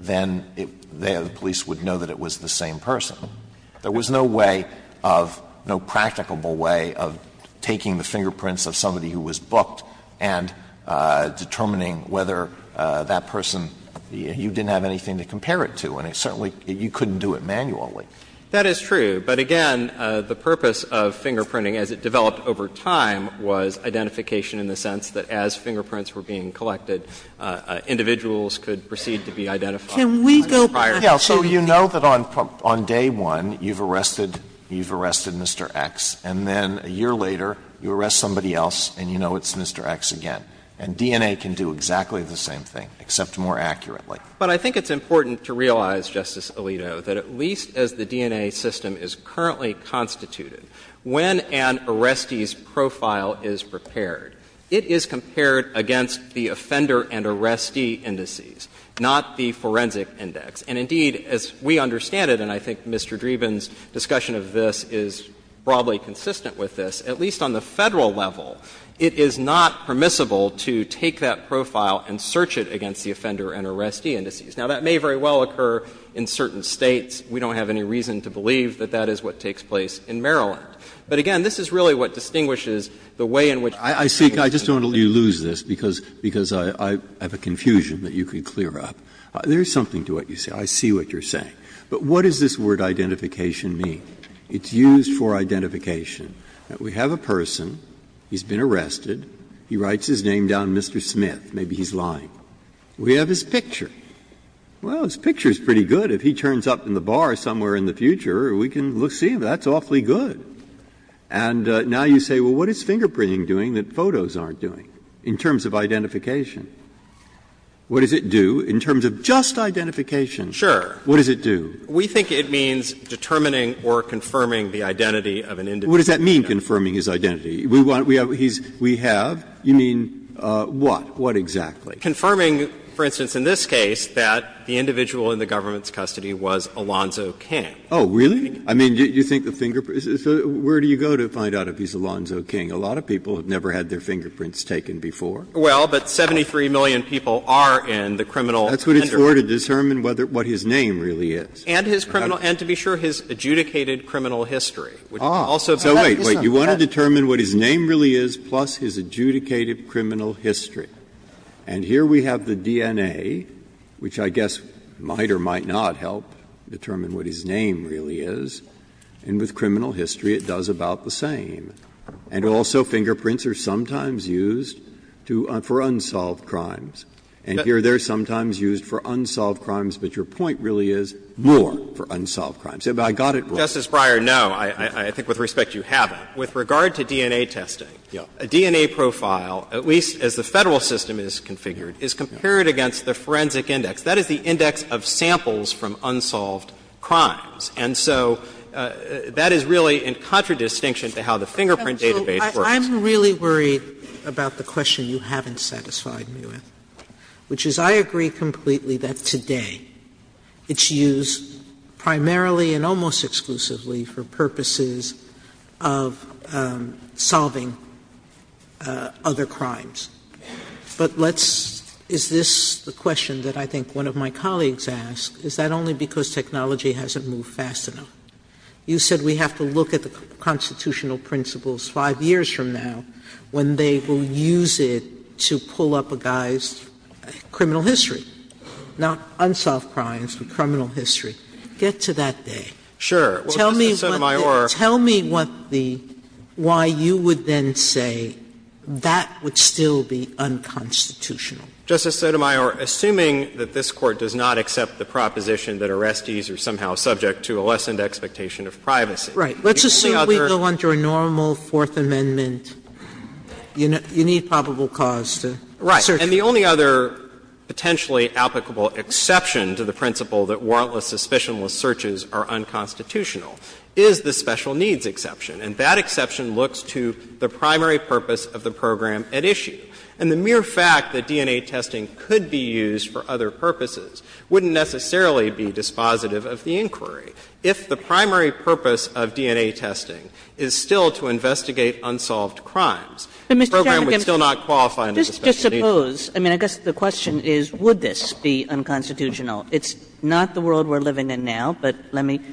then the police would know that it was the same person. There was no way of, no practicable way of taking the fingerprints of somebody who was booked and determining whether that person, you didn't have anything to compare it to. And certainly, you couldn't do it manually. That is true. But again, the purpose of fingerprinting, as it developed over time, was identification in the sense that as fingerprints were being collected, individuals could proceed to be identified. Can we go back to the---- You can go back to the DNA system and say, well, in 2001, you've arrested, you've arrested Mr. X, and then a year later, you arrest somebody else, and you know it's Mr. X again. And DNA can do exactly the same thing, except more accurately. But I think it's important to realize, Justice Alito, that at least as the DNA system is currently constituted, when an arrestee's profile is prepared, it is compared against the offender and arrestee indices, not the forensic index. And indeed, as we understand it, and I think Mr. Dreeben's discussion of this is broadly consistent with this, at least on the Federal level, it is not permissible to take that profile and search it against the offender and arrestee indices. Now, that may very well occur in certain States. We don't have any reason to believe that that is what takes place in Maryland. But again, this is really what distinguishes the way in which the Federal system Breyer. Breyer. And so I don't want to make you lose this, because I have a confusion that you can clear up. There is something to what you say. I see what you're saying. But what does this word identification mean? It's used for identification, that we have a person, he's been arrested, he writes his name down, Mr. Smith, maybe he's lying. We have his picture. Well, his picture is pretty good. If he turns up in the bar somewhere in the future, we can see that's awfully good. And now you say, well, what is fingerprinting doing that photos aren't doing in terms of identification? What does it do in terms of just identification? Sure. What does it do? We think it means determining or confirming the identity of an individual. What does that mean, confirming his identity? We have, you mean what? What exactly? Confirming, for instance, in this case, that the individual in the government's custody was Alonzo King. Oh, really? I mean, do you think the fingerprints, where do you go to find out if he's Alonzo King? A lot of people have never had their fingerprints taken before. Well, but 73 million people are in the criminal record. That's what it's for, to determine what his name really is. And his criminal, and to be sure, his adjudicated criminal history. Ah. So wait, wait. You want to determine what his name really is plus his adjudicated criminal history. And here we have the DNA, which I guess might or might not help determine what his name really is, and with criminal history it does about the same. And also fingerprints are sometimes used to, for unsolved crimes. And here they're sometimes used for unsolved crimes, but your point really is more for unsolved crimes. I got it wrong. Justice Breyer, no. I think with respect you have it. With regard to DNA testing, a DNA profile, at least as the Federal system is configured, is compared against the forensic index. That is the index of samples from unsolved crimes. And so that is really in contradistinction to how the fingerprint database Sotomayor, I'm really worried about the question you haven't satisfied me with, which is I agree completely that today it's used primarily and almost exclusively for purposes of solving other crimes. But let's — is this the question that I think one of my colleagues asked? Is that only because technology hasn't moved fast enough? You said we have to look at the constitutional principles 5 years from now when they will use it to pull up a guy's criminal history, not unsolved crimes, but criminal history. Get to that day. Sure. Well, Justice Sotomayor — Tell me what the — why you would then say that would still be unconstitutional. Justice Sotomayor, assuming that this Court does not accept the proposition that arrestees are somehow subject to a lessened expectation of privacy. Right. Let's assume we go under normal Fourth Amendment. You need probable cause to search. Right. And the only other potentially applicable exception to the principle that warrantless suspicionless searches are unconstitutional is the special needs exception. And that exception looks to the primary purpose of the program at issue. And the mere fact that DNA testing could be used for other purposes wouldn't necessarily be dispositive of the inquiry. If the primary purpose of DNA testing is still to investigate unsolved crimes, the program would still not qualify under the special needs — Just suppose, I mean, I guess the question is, would this be unconstitutional? It's not the world we're living in now, but let me —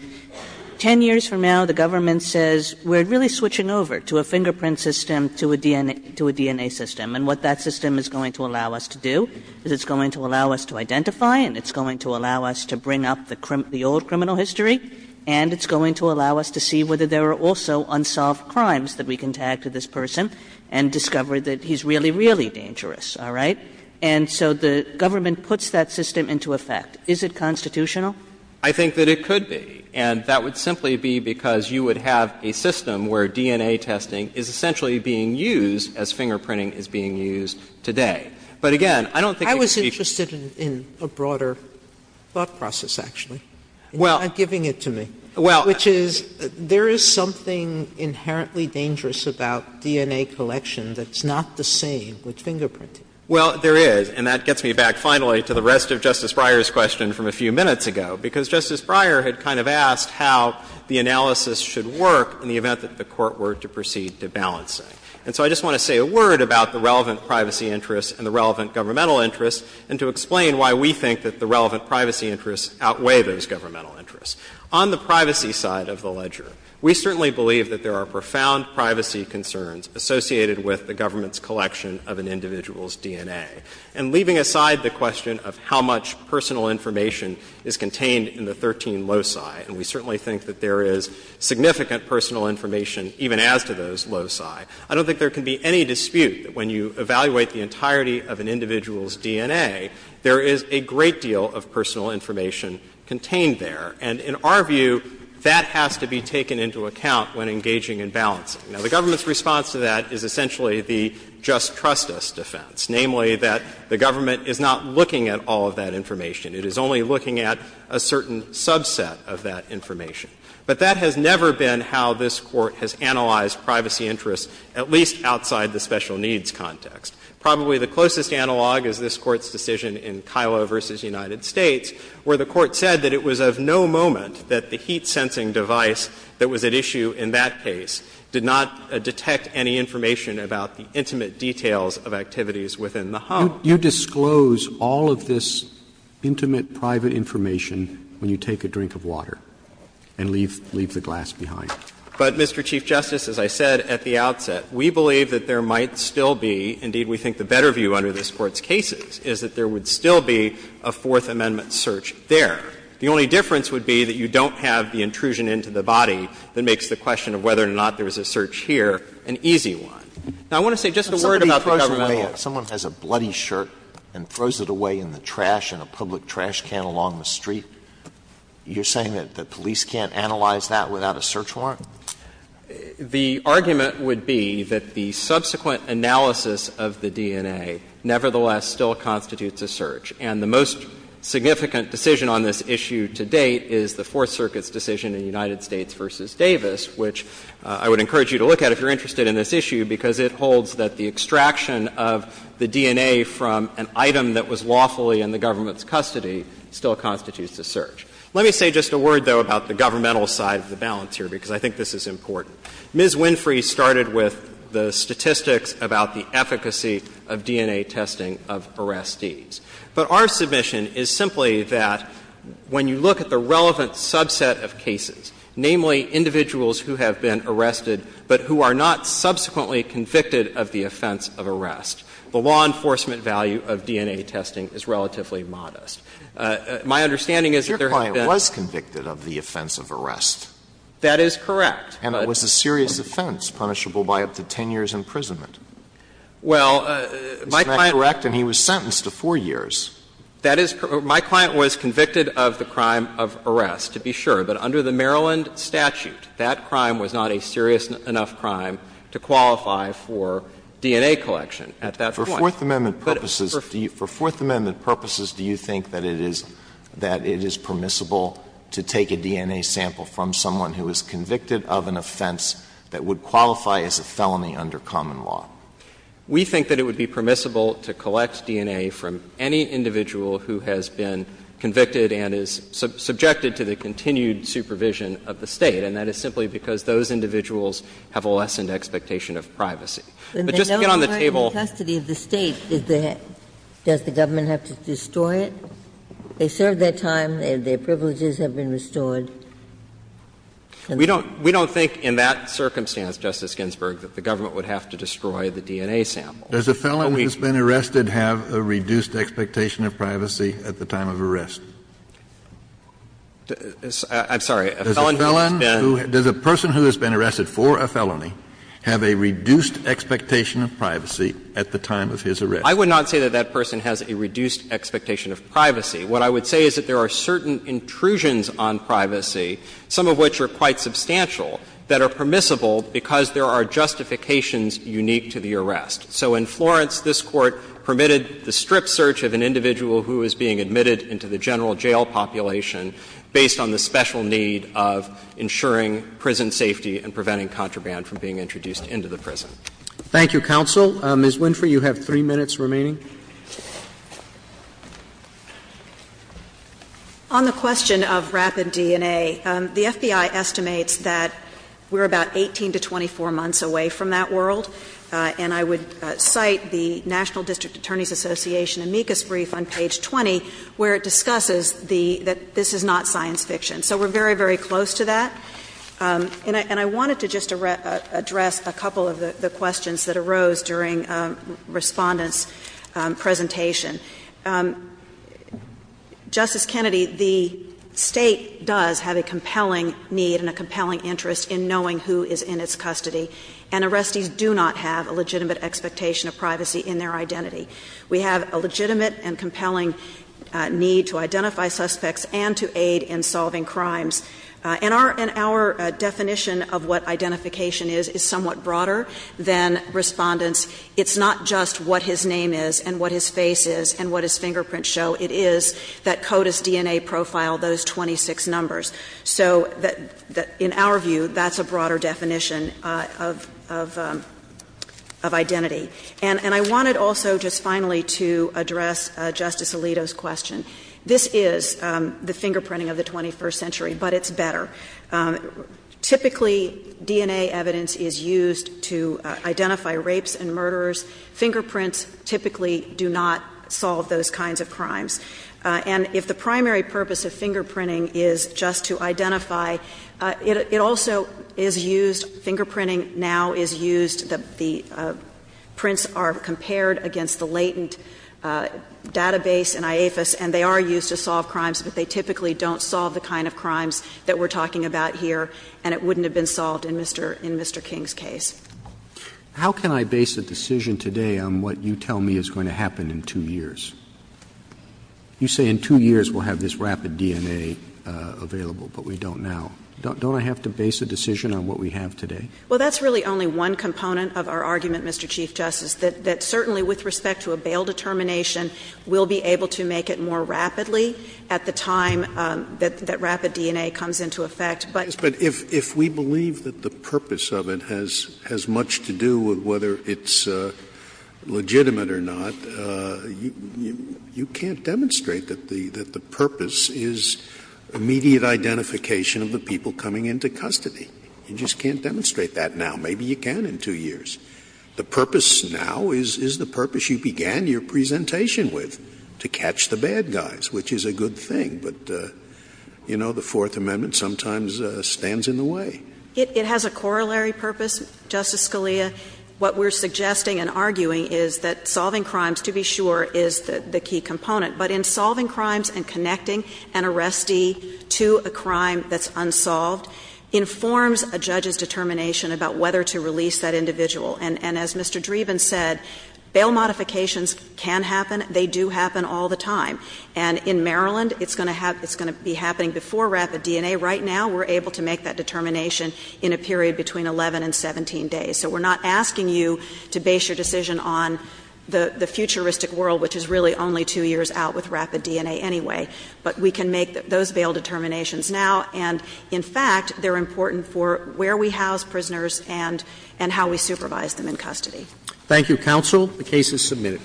10 years from now, the government says we're really switching over to a fingerprint system, to a DNA system. And what that system is going to allow us to do is it's going to allow us to identify and it's going to allow us to bring up the old criminal history, and it's going to allow us to see whether there are also unsolved crimes that we can tag to this person and discover that he's really, really dangerous. All right? And so the government puts that system into effect. Is it constitutional? I think that it could be. And that would simply be because you would have a system where DNA testing is essentially being used as fingerprinting is being used today. But again, I don't think it could be— Sotomayor, I was interested in a broader thought process, actually. It's not giving it to me, which is there is something inherently dangerous about DNA collection that's not the same with fingerprinting. Well, there is, and that gets me back, finally, to the rest of Justice Breyer's question from a few minutes ago, because Justice Breyer had kind of asked how the And so I just want to say a word about the relevant privacy interests and the relevant governmental interests, and to explain why we think that the relevant privacy interests outweigh those governmental interests. On the privacy side of the ledger, we certainly believe that there are profound privacy concerns associated with the government's collection of an individual's DNA. And leaving aside the question of how much personal information is contained in the 13 loci, and we certainly think that there is significant personal information even as to those loci, I don't think there can be any dispute that when you evaluate the entirety of an individual's DNA, there is a great deal of personal information contained there. And in our view, that has to be taken into account when engaging in balancing. Now, the government's response to that is essentially the just trust us defense, namely that the government is not looking at all of that information. It is only looking at a certain subset of that information. But that has never been how this Court has analyzed privacy interests, at least outside the special needs context. Probably the closest analog is this Court's decision in Kilo v. United States, where the Court said that it was of no moment that the heat-sensing device that was at issue in that case did not detect any information about the intimate details of activities within the home. Roberts, you disclose all of this intimate private information when you take a drink of water. And leave the glass behind. But, Mr. Chief Justice, as I said at the outset, we believe that there might still be, indeed we think the better view under this Court's cases, is that there would still be a Fourth Amendment search there. The only difference would be that you don't have the intrusion into the body that makes the question of whether or not there was a search here an easy one. Now, I want to say just a word about the government. Alito, someone has a bloody shirt and throws it away in the trash in a public trash can along the street. You're saying that the police can't analyze that without a search warrant? The argument would be that the subsequent analysis of the DNA nevertheless still constitutes a search. And the most significant decision on this issue to date is the Fourth Circuit's decision in United States v. Davis, which I would encourage you to look at if you're interested in this issue, because it holds that the extraction of the DNA from an item that was lawfully in the government's custody still constitutes a search. Let me say just a word, though, about the governmental side of the balance here, because I think this is important. Ms. Winfrey started with the statistics about the efficacy of DNA testing of arrestees. But our submission is simply that when you look at the relevant subset of cases, namely individuals who have been arrested but who are not subsequently convicted of the offense of arrest, the law enforcement value of DNA testing is relatively modest. My understanding is that there have been ---- Alito, your client was convicted of the offense of arrest. That is correct. And it was a serious offense, punishable by up to 10 years' imprisonment. Well, my client ---- Isn't that correct? And he was sentenced to 4 years. That is ---- my client was convicted of the crime of arrest, to be sure. But under the Maryland statute, that crime was not a serious enough crime to qualify for DNA collection at that point. But for Fourth Amendment purposes, do you think that it is permissible to take a DNA sample from someone who is convicted of an offense that would qualify as a felony under common law? We think that it would be permissible to collect DNA from any individual who has been convicted and is subjected to the continued supervision of the State, and that is simply because those individuals have a lessened expectation of privacy. But just to get on the table ---- But they don't require custody of the State. Does the government have to destroy it? They served their time, their privileges have been restored. We don't think in that circumstance, Justice Ginsburg, that the government would have to destroy the DNA sample. Does a felon who has been arrested have a reduced expectation of privacy at the time of arrest? I'm sorry. A felon who has been ---- Does a person who has been arrested for a felony have a reduced expectation of privacy at the time of his arrest? I would not say that that person has a reduced expectation of privacy. What I would say is that there are certain intrusions on privacy, some of which are quite substantial, that are permissible because there are justifications unique to the arrest. So in Florence, this Court permitted the strip search of an individual who is being in need of ensuring prison safety and preventing contraband from being introduced into the prison. Thank you, counsel. Ms. Winfrey, you have three minutes remaining. On the question of rapid DNA, the FBI estimates that we're about 18 to 24 months away from that world, and I would cite the National District Attorney's Association amicus brief on page 20 where it discusses the ---- that this is not science fiction. So we're very, very close to that. And I wanted to just address a couple of the questions that arose during Respondent's presentation. Justice Kennedy, the State does have a compelling need and a compelling interest in knowing who is in its custody, and arrestees do not have a legitimate expectation of privacy in their identity. We have a legitimate and compelling need to identify suspects and to aid in solving crimes. And our definition of what identification is is somewhat broader than Respondent's. It's not just what his name is and what his face is and what his fingerprints show. It is that CODIS DNA profile, those 26 numbers. So in our view, that's a broader definition of identity. And I wanted also just finally to address Justice Alito's question. This is the fingerprinting of the 21st century, but it's better. Typically, DNA evidence is used to identify rapes and murderers. Fingerprints typically do not solve those kinds of crimes. And if the primary purpose of fingerprinting is just to identify, it also is used fingerprinting now is used, the prints are compared against the latent database in IAFIS, and they are used to solve crimes, but they typically don't solve the kind of crimes that we're talking about here, and it wouldn't have been solved in Mr. King's case. Roberts. How can I base a decision today on what you tell me is going to happen in two years? You say in two years we'll have this rapid DNA available, but we don't now. Don't I have to base a decision on what we have today? Well, that's really only one component of our argument, Mr. Chief Justice, that certainly with respect to a bail determination, we'll be able to make it more rapidly at the time that rapid DNA comes into effect. But if we believe that the purpose of it has much to do with whether it's legitimate or not, you can't demonstrate that the purpose is immediate identification of the people coming into custody. You just can't demonstrate that now. Maybe you can in two years. The purpose now is the purpose you began your presentation with, to catch the bad guys, which is a good thing. But, you know, the Fourth Amendment sometimes stands in the way. It has a corollary purpose, Justice Scalia. What we're suggesting and arguing is that solving crimes, to be sure, is the key component, but in solving crimes and connecting an arrestee to a crime that's unsolved informs a judge's determination about whether to release that individual. And as Mr. Dreeben said, bail modifications can happen. They do happen all the time. And in Maryland, it's going to be happening before rapid DNA. Right now, we're able to make that determination in a period between 11 and 17 days. So we're not asking you to base your decision on the futuristic world, which is really only two years out with rapid DNA anyway. But we can make those bail determinations now. And, in fact, they're important for where we house prisoners and how we supervise them in custody. Thank you, counsel. The case is submitted.